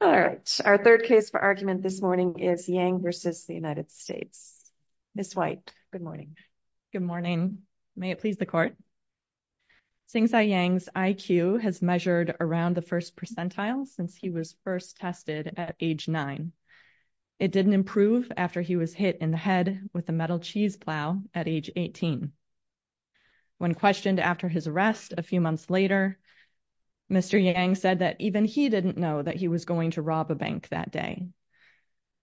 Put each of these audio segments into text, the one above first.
Sengxai Yang's IQ has measured around the first percentile since he was first tested at age 9. It didn't improve after he was hit in the head with a metal cheese plow at age 18. When questioned after his arrest a few months later, Mr. Yang said that even he didn't know that he was going to rob a bank that day.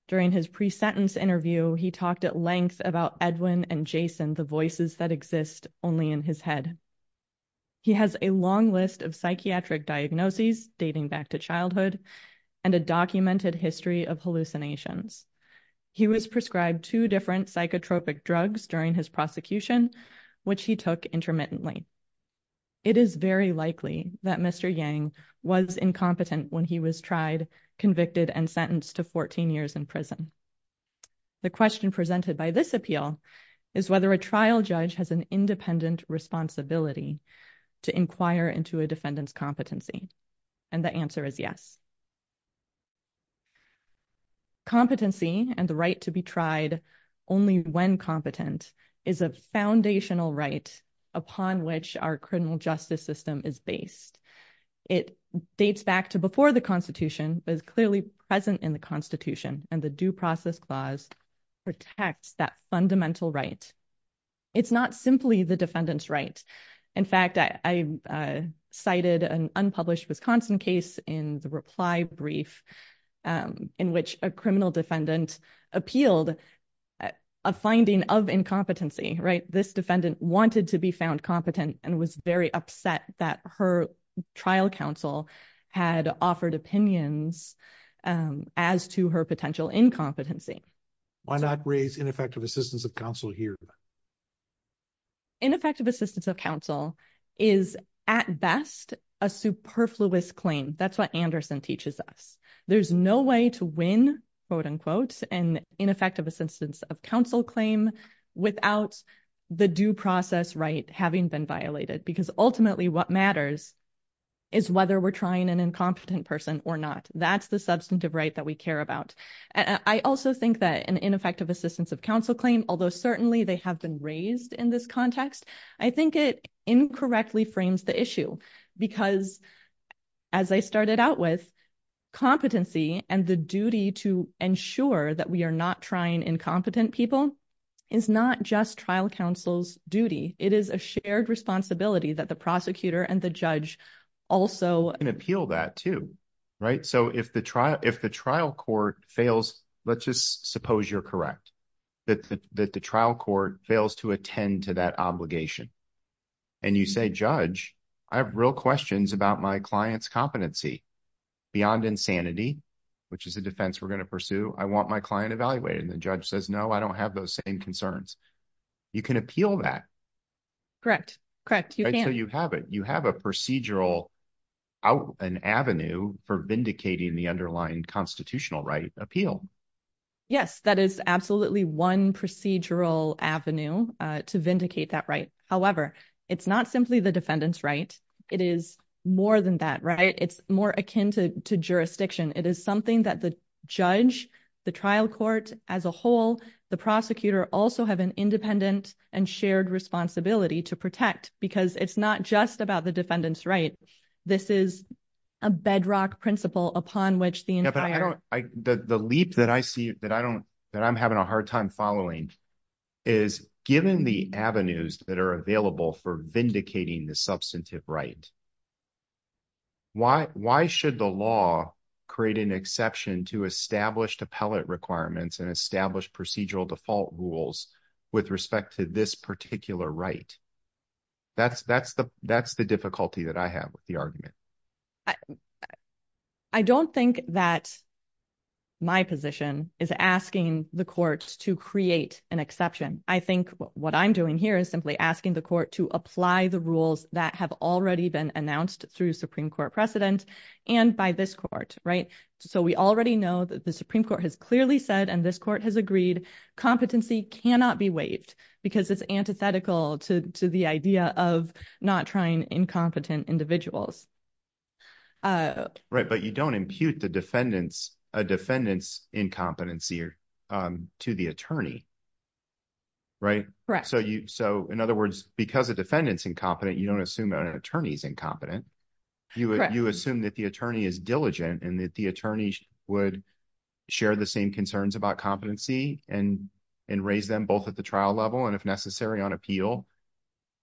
During his pre-sentence interview, he talked at length about Edwin and Jason, the voices that exist only in his head. He has a long list of psychiatric diagnoses dating back to childhood and a documented history of hallucinations. He was prescribed two different psychotropic drugs during his prosecution, which he took convicted and sentenced to 14 years in prison. The question presented by this appeal is whether a trial judge has an independent responsibility to inquire into a defendant's competency, and the answer is yes. Competency and the right to be tried only when competent is a foundational right upon which our criminal justice system is based. It dates back to before the Constitution, but is clearly present in the Constitution, and the Due Process Clause protects that fundamental right. It's not simply the defendant's right. In fact, I cited an unpublished Wisconsin case in the reply brief in which a criminal defendant appealed a finding of incompetency, right? This very upset that her trial counsel had offered opinions as to her potential incompetency. Why not raise ineffective assistance of counsel here? Ineffective assistance of counsel is, at best, a superfluous claim. That's what Anderson teaches us. There's no way to win, quote unquote, an ineffective assistance of counsel claim without the due process right having been violated, because ultimately what matters is whether we're trying an incompetent person or not. That's the substantive right that we care about. I also think that an ineffective assistance of counsel claim, although certainly they have been raised in this context, I think it incorrectly frames the issue because, as I started out with, competency and the duty to ensure that we are not trying incompetent people is not just trial counsel's duty. It is a shared responsibility that the prosecutor and the judge also can appeal that too, right? So if the trial court fails, let's just suppose you're correct, that the trial court fails to attend to that obligation and you say, Judge, I have real questions about my client's competency beyond insanity, which is a defense we're going to You can appeal that. Correct, correct. You can. So you have it. You have a procedural avenue for vindicating the underlying constitutional right appeal. Yes, that is absolutely one procedural avenue to vindicate that right. However, it's not simply the defendant's right. It is more than that, right? It's more akin to an independent and shared responsibility to protect because it's not just about the defendant's right. This is a bedrock principle upon which the entire The leap that I see that I don't that I'm having a hard time following is given the avenues that are available for vindicating the substantive right. Why should the law create an exception to established appellate requirements and procedural default rules with respect to this particular right? That's the difficulty that I have with the argument. I don't think that my position is asking the court to create an exception. I think what I'm doing here is simply asking the court to apply the rules that have already been announced through Supreme Court precedent and by this court, right? So we already know that the Supreme Court has agreed competency cannot be waived because it's antithetical to the idea of not trying incompetent individuals. Right, but you don't impute the defendants, a defendant's incompetency to the attorney, right? Correct. So you so in other words, because the defendant's incompetent, you don't assume an attorney's incompetent. You assume that the attorney is diligent and that the and and raise them both at the trial level and if necessary on appeal.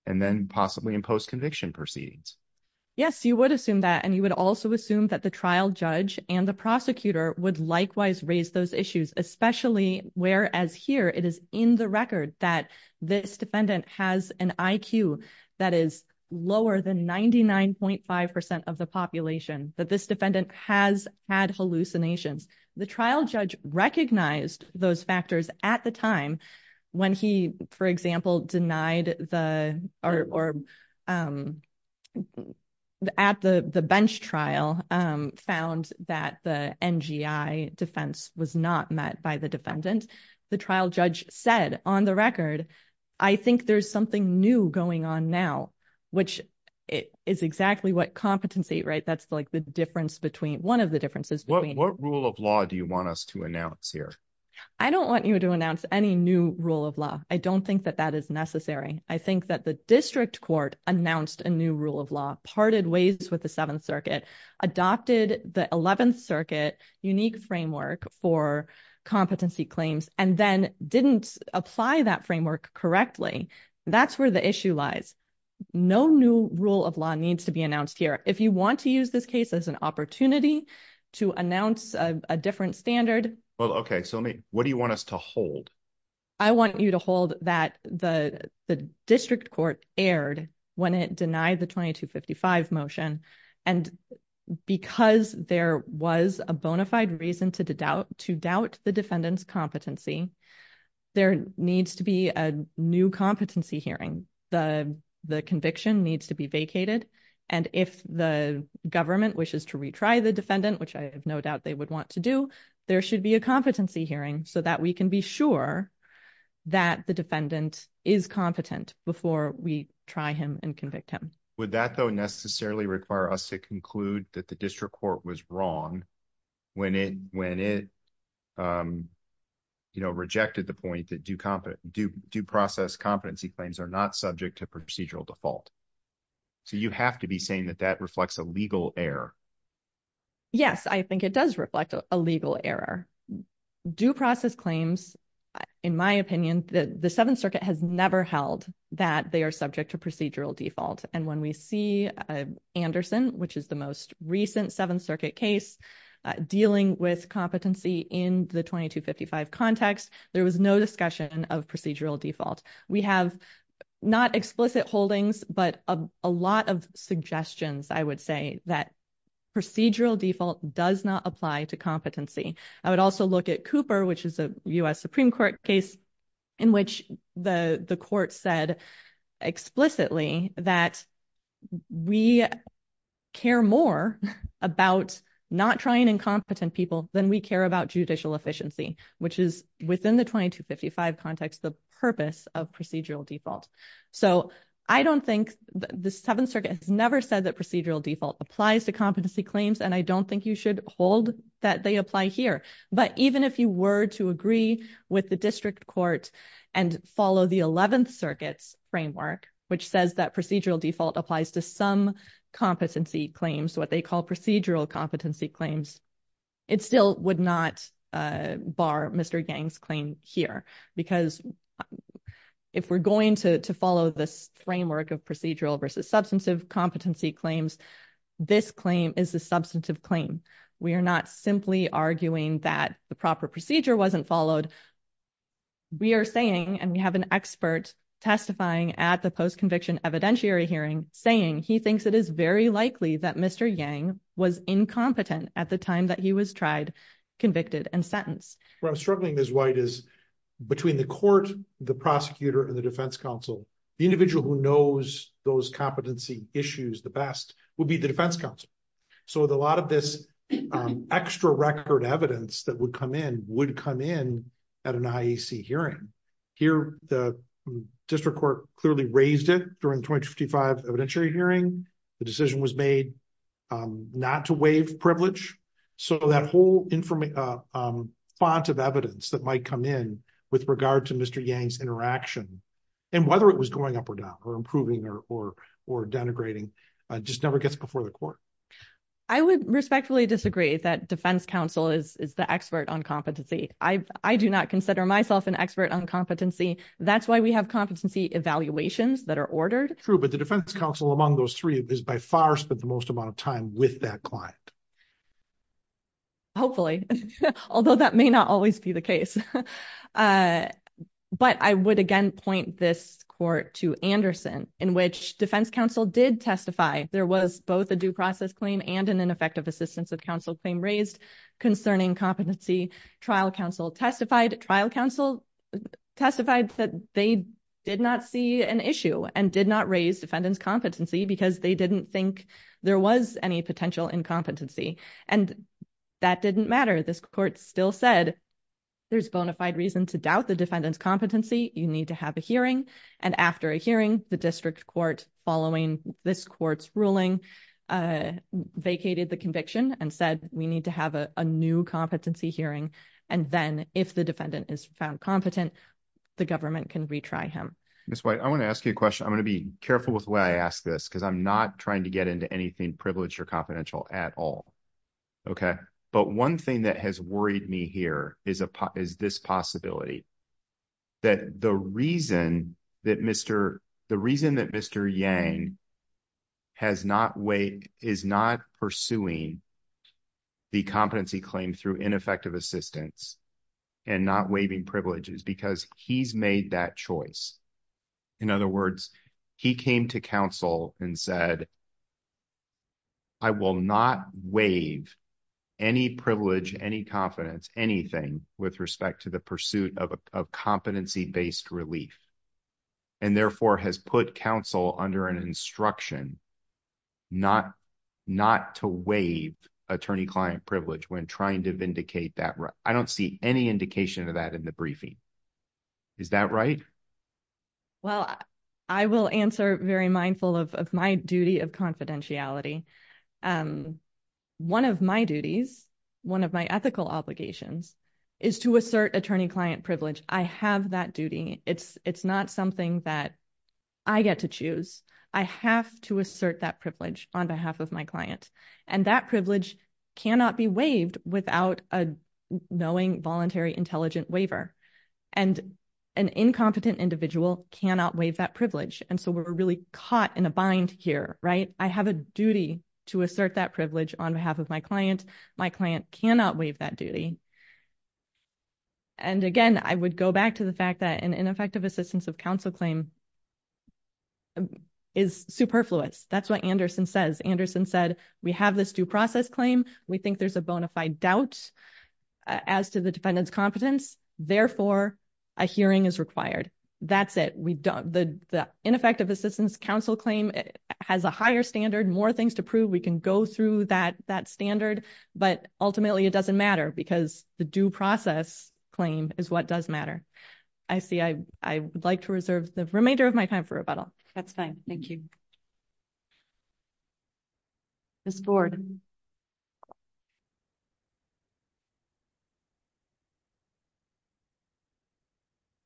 And then possibly in post conviction proceedings. Yes, you would assume that and you would also assume that the trial judge and the prosecutor would likewise raise those issues, especially whereas here it is in the record that this defendant has an IQ that is lower than 99.5% of the population that this defendant has had hallucinations. The trial judge recognized those factors at the time when he, for example, denied the or at the bench trial found that the NGI defense was not met by the defendant. The trial judge said on the record, I think there's something new going on now, which is exactly what competency, right? That's like the difference between one of the differences. What rule of law do you want us to announce here? I don't want you to announce any new rule of law. I don't think that that is necessary. I think that the district court announced a new rule of law parted ways with the Seventh Circuit, adopted the Eleventh Circuit unique framework for competency claims and then didn't apply that issue. No new rule of law needs to be announced here. If you want to use this case as an opportunity to announce a different standard. Well, okay, so what do you want us to hold? I want you to hold that the district court aired when it denied the 2255 motion and because there was a bona fide reason to doubt the defendant's competency, there needs to be a new competency hearing. The conviction needs to be vacated and if the government wishes to retry the defendant, which I have no doubt they would want to do, there should be a competency hearing so that we can be sure that the defendant is competent before we try him and convict him. Would that though necessarily require us to conclude that the district court rejected the point that due process competency claims are not subject to procedural default? So you have to be saying that that reflects a legal error. Yes, I think it does reflect a legal error. Due process claims, in my opinion, the Seventh Circuit has never held that they are subject to procedural default and when we see Anderson, which is the most recent Seventh Context, there was no discussion of procedural default. We have not explicit holdings, but a lot of suggestions, I would say, that procedural default does not apply to competency. I would also look at Cooper, which is a U.S. Supreme Court case in which the court said explicitly that we care more about not trying incompetent people than we care about judicial efficiency, which is within the 2255 context the purpose of procedural default. So I don't think the Seventh Circuit has never said that procedural default applies to competency claims and I don't think you should hold that they apply here. But even if you were to agree with the district court and follow the Eleventh Circuit's framework, which says that procedural default applies to some competency claims, what they call procedural competency claims, it still would not bar Mr. Yang's claim here. Because if we're going to follow this framework of procedural versus substantive competency claims, this claim is a substantive claim. We are not simply arguing that the proper procedure wasn't followed. We are saying, and we have an expert testifying at the post-conviction evidentiary hearing, saying he thinks it is very likely that Mr. Yang was incompetent at the time that he was tried, convicted, and sentenced. What I'm struggling, Ms. White, is between the court, the prosecutor, and the defense counsel, the individual who knows those competency issues the best would be the defense counsel. So a lot of this extra record evidence that would come in at an IEC hearing. Here, the district court clearly raised it during the 2055 evidentiary hearing. The decision was made not to waive privilege. So that whole font of evidence that might come in with regard to Mr. Yang's interaction and whether it was going up or down or improving or denigrating just never gets before the court. I would respectfully disagree that defense counsel is the expert on competency. I do not consider myself an expert on competency. That's why we have competency evaluations that are ordered. True, but the defense counsel among those three has by far spent the most amount of time with that client. Hopefully, although that may not always be the case. But I would again point this court to Anderson in which defense counsel did testify. There was both a due process claim and an effective assistance of counsel claim raised concerning competency. Trial counsel testified trial counsel testified that they did not see an issue and did not raise defendant's competency because they didn't think there was any potential incompetency. And that didn't matter. This court still said there's bona fide reason to doubt the defendant's competency. You need to have a hearing. And after a hearing, the district court following this court's ruling vacated the conviction and said we need to have a new competency hearing. And then if the defendant is found competent, the government can retry him. I want to ask you a question. I'm going to be careful with the way I ask this because I'm not trying to get into anything privileged or confidential at all. Okay. But one thing that has worried me here is this possibility that the reason that Mr. Yang has not is not pursuing the competency claim through ineffective assistance and not waiving privileges because he's made that choice. In other words, he came to counsel and said I will not waive any privilege, any confidence, anything with respect to the pursuit of competency-based relief and therefore has put counsel under an instruction not to waive attorney client privilege when trying to vindicate that. I don't see any indication of that in the briefing. Is that right? Well, I will answer very mindful of my duty of confidentiality. One of my duties, one of my ethical obligations is to assert attorney client privilege. I have that duty. It's not something that I get to choose. I have to assert that privilege on behalf of my client. And an incompetent individual cannot waive that privilege. And so we're really caught in a bind here, right? I have a duty to assert that privilege on behalf of my client. My client cannot waive that duty. And again, I would go back to the fact that an ineffective assistance of counsel claim is superfluous. That's what Anderson says. Anderson said, we have this due process claim. We think there's a bona fide doubt as to the defendant's competence. Therefore, a hearing is required. That's it. The ineffective assistance counsel claim has a higher standard, more things to prove. We can go through that standard, but ultimately it doesn't matter because the due process claim is what does matter. I see. I would like to reserve the remainder of my time for rebuttal. That's fine. Thank you. Ms. Borden.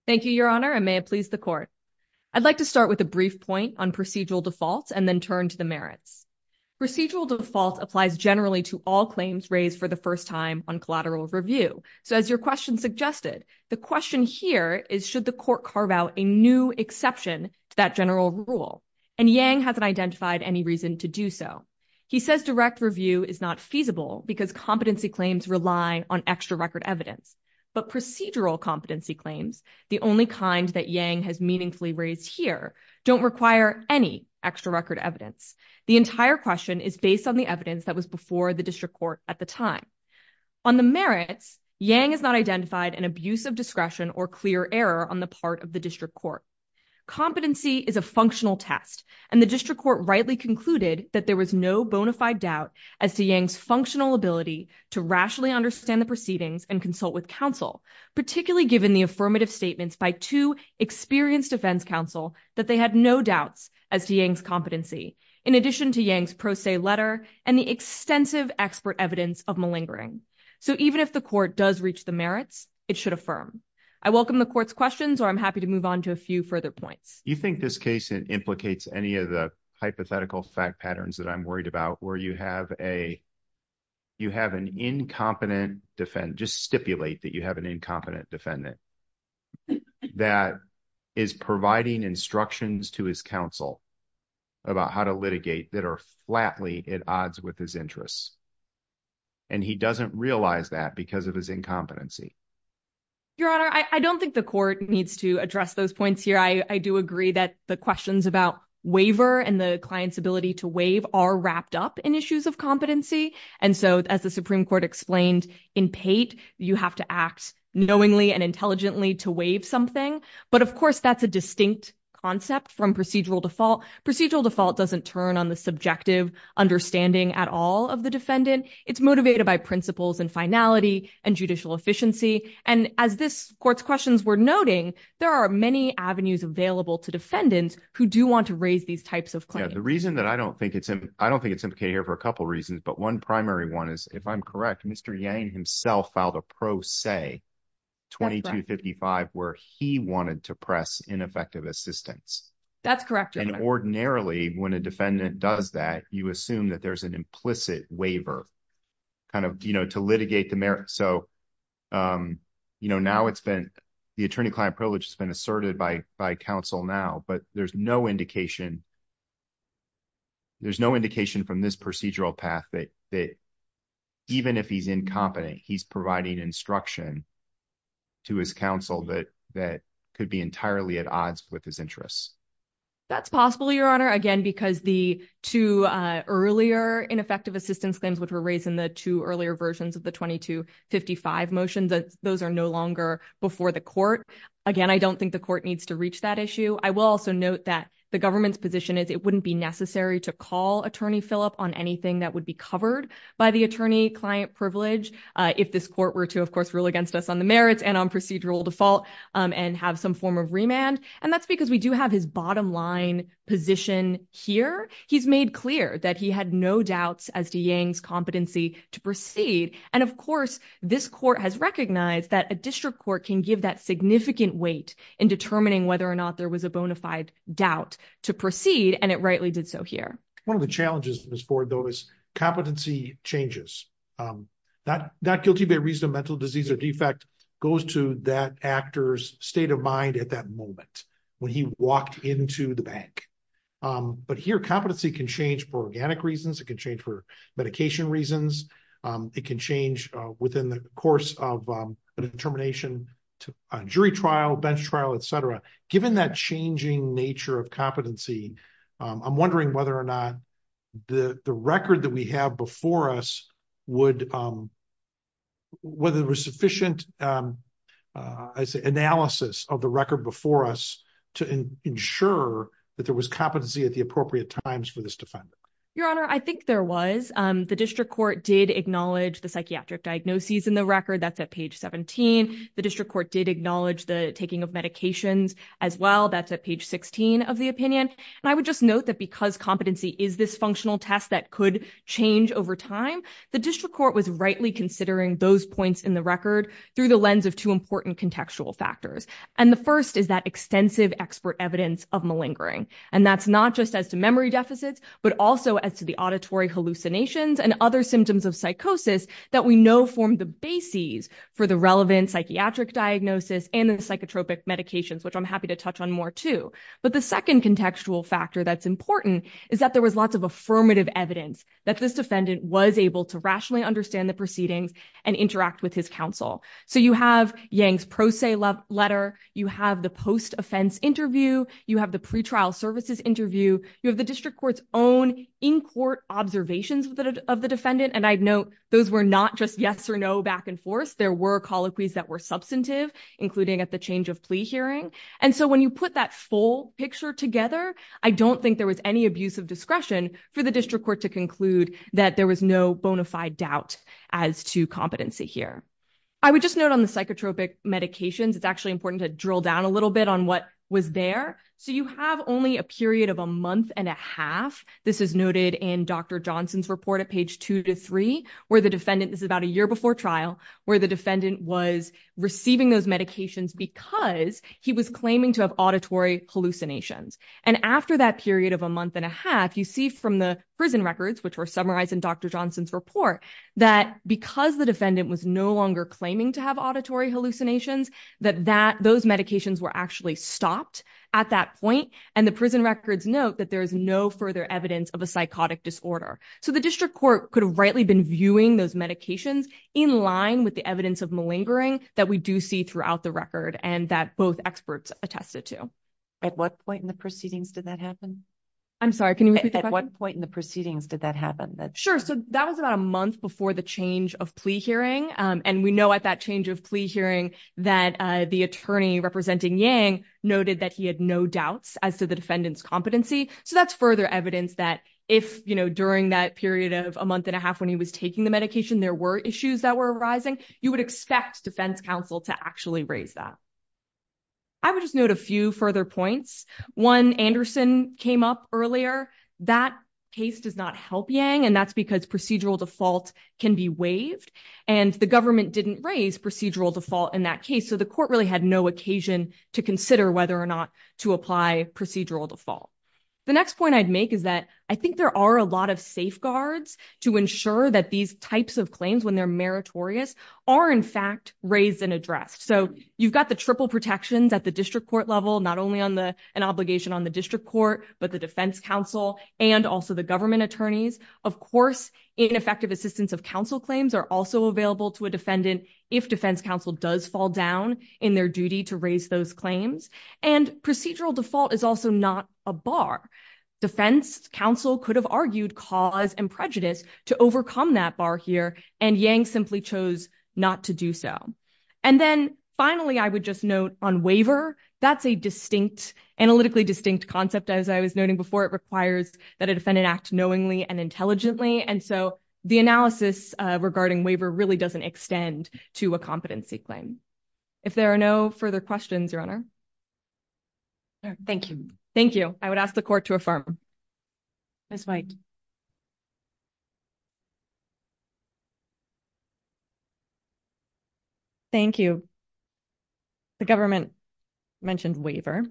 Thank you, Your Honor, and may it please the court. I'd like to start with a brief point on procedural defaults and then turn to the merits. Procedural default applies generally to all claims raised for the first time on collateral review. So as your question suggested, the question here is should the court carve out a new exception to that general rule? And Yang hasn't identified any reason to do so. He says direct review is not feasible because competency claims rely on extra record evidence. But procedural competency claims, the only kind that Yang has meaningfully raised here, don't require any extra record evidence. The entire question is based on the evidence that was before the district court at the time. On the merits, Yang has not identified an abuse of discretion or clear error on the part of the district court. Competency is a functional test, and the district court rightly concluded that there was no bona fide doubt as to Yang's functional ability to rationally understand the proceedings and consult with counsel, particularly given the affirmative statements by two experienced defense counsel that they had no doubts as to Yang's competency, in addition to Yang's pro se letter and the extensive expert evidence of malingering. So even if the court does reach the merits, it should affirm. I welcome the court's questions or I'm happy to move on to a few further points. You think this case implicates any of the hypothetical fact patterns that I'm worried about where you have an incompetent defendant, just stipulate that you have an incompetent defendant that is providing instructions to his counsel about how to litigate that are flatly at odds with his interests. And he doesn't realize that because of his incompetency. Your Honor, I don't think the court needs to address those points here. I do agree that the questions about waiver and the client's ability to waive are wrapped up in issues of competency. And so, as the Supreme Court explained in Pate, you have to act knowingly and intelligently to waive something. But of course, that's a distinct concept from procedural default. Procedural default doesn't turn on the subjective understanding at all of the defendant. It's motivated by principles and finality and judicial efficiency. And as this court's questions were noting, there are many avenues available to defendants who do want to raise these types of claims. The reason that I don't think it's I don't think it's OK here for a couple reasons, but one primary one is, if I'm correct, Mr. Yang himself filed a pro se 2255 where he wanted to when a defendant does that, you assume that there's an implicit waiver kind of to litigate the merit. So now it's been the attorney client privilege has been asserted by counsel now, but there's no indication. There's no indication from this procedural path that even if he's incompetent, he's providing instruction to his counsel that that could be entirely at odds with his interests. That's possible, Your Honor, again, because the two earlier ineffective assistance claims which were raised in the two earlier versions of the 2255 motions, those are no longer before the court. Again, I don't think the court needs to reach that issue. I will also note that the government's position is it wouldn't be necessary to call Attorney Philip on anything that would be covered by the attorney client privilege if this court were to, of course, rule against us on the merits and on procedural default and have some form of remand. And that's because we do have his bottom line position here. He's made clear that he had no doubts as to Yang's competency to proceed. And of course, this court has recognized that a district court can give that significant weight in determining whether or not there was a bona fide doubt to proceed. And it rightly did so here. One of the challenges is for those competency changes. That guilty by reason of mental disease or defect goes to that actor's state of mind at that moment when he walked into the bank. But here, competency can change for organic reasons. It can change for medication reasons. It can change within the course of a determination to a jury trial, bench trial, et cetera. Given that changing nature of competency, I'm wondering whether or not the record that we have before us would whether there was sufficient analysis of the record before us to ensure that there was competency at the appropriate times for this defendant. Your Honor, I think there was. The district court did acknowledge the psychiatric diagnoses in the record. That's at page 17. The district court did acknowledge the taking of the record. And I would just note that because competency is this functional test that could change over time, the district court was rightly considering those points in the record through the lens of two important contextual factors. And the first is that extensive expert evidence of malingering. And that's not just as to memory deficits, but also as to the auditory hallucinations and other symptoms of psychosis that we know form the bases for the relevant psychiatric diagnosis and the psychotropic medications, which I'm happy to touch on more too. But the second contextual factor that's important is that there was lots of affirmative evidence that this defendant was able to rationally understand the proceedings and interact with his counsel. So you have Yang's pro se letter. You have the post-offense interview. You have the pretrial services interview. You have the district court's own in-court observations of the defendant. And I'd note those were not just yes or no back and forth. There were colloquies that were substantive, including at the change of plea hearing. And so when you put that full picture together, I don't think there was any abuse of discretion for the district court to conclude that there was no bona fide doubt as to competency here. I would just note on the psychotropic medications, it's actually important to drill down a little bit on what was there. So you have only a period of a month and a half. This is noted in Dr. Johnson's report at page two to three, where the defendant was receiving those medications because he was claiming to have auditory hallucinations. And after that period of a month and a half, you see from the prison records, which were summarized in Dr. Johnson's report, that because the defendant was no longer claiming to have auditory hallucinations, that those medications were actually stopped at that point. And the prison records note that there is no further evidence of a psychotic disorder. So district court could have rightly been viewing those medications in line with the evidence of malingering that we do see throughout the record and that both experts attested to. At what point in the proceedings did that happen? I'm sorry, can you repeat the question? At what point in the proceedings did that happen? Sure. So that was about a month before the change of plea hearing. And we know at that change of plea hearing that the attorney representing Yang noted that he had no doubts as to the defendant's competency. So that's further evidence that if during that period of a month and a half when he was taking the medication, there were issues that were arising, you would expect defense counsel to actually raise that. I would just note a few further points. One, Anderson came up earlier. That case does not help Yang. And that's because procedural default can be waived. And the government didn't raise procedural default in that case. So the court really had no occasion to consider whether or apply procedural default. The next point I'd make is that I think there are a lot of safeguards to ensure that these types of claims, when they're meritorious, are in fact raised and addressed. So you've got the triple protections at the district court level, not only an obligation on the district court, but the defense counsel and also the government attorneys. Of course, ineffective assistance of counsel claims are also available to a defendant if defense counsel does fall down in their duty to raise those claims. And procedural default is also not a bar. Defense counsel could have argued cause and prejudice to overcome that bar here. And Yang simply chose not to do so. And then finally, I would just note on waiver, that's a distinct, analytically distinct concept. As I was noting before, it requires that a defendant act knowingly and intelligently. And so the analysis regarding waiver really doesn't extend to a competency claim. If there are no further questions, Your Honor. Thank you. Thank you. I would ask the court to affirm. Ms. White. Thank you. The government mentioned waiver.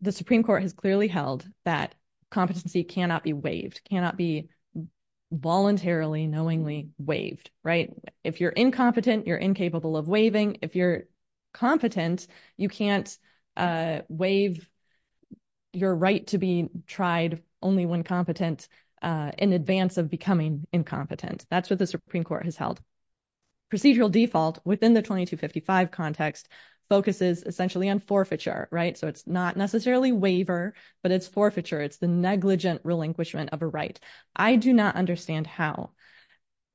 The Supreme Court has clearly held that competency cannot be waived, cannot be voluntarily, knowingly waived, right? If you're incompetent, you're incapable of waiving. If you're competent, you can't waive your right to be tried only when competent in advance of becoming incompetent. That's what the Supreme Court has held. Procedural default within the 2255 context focuses essentially on forfeiture, right? So it's not necessarily waiver, but it's forfeiture. It's the negligent relinquishment of a right. I do not understand how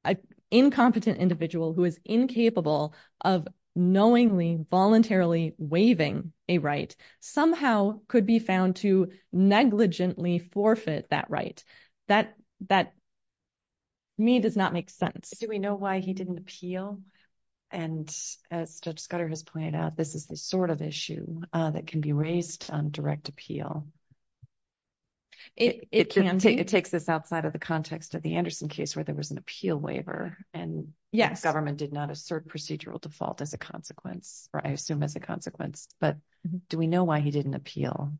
an incompetent individual who is incapable of knowingly voluntarily waiving a right somehow could be found to negligently forfeit that right. That, to me, does not make sense. Do we know why he didn't appeal? And as Judge Scudder has pointed out, this is the sort of issue that can be raised on direct appeal. It takes this outside of the context of the Anderson case where there was an appeal waiver and the government did not assert procedural default as a consequence, or I assume as a consequence. But do we know why he didn't appeal?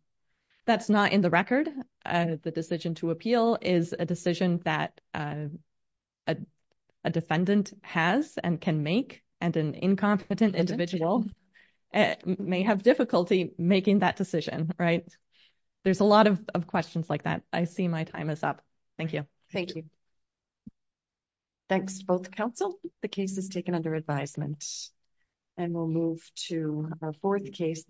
That's not in the record. The decision to appeal is a decision that a defendant has and can make, and an incompetent individual may have difficulty making that decision, right? There's a lot of questions like that. I see my time is up. Thank you. Thank you. Thanks to both counsel. The case is taken under advisement and we'll move to our fourth case.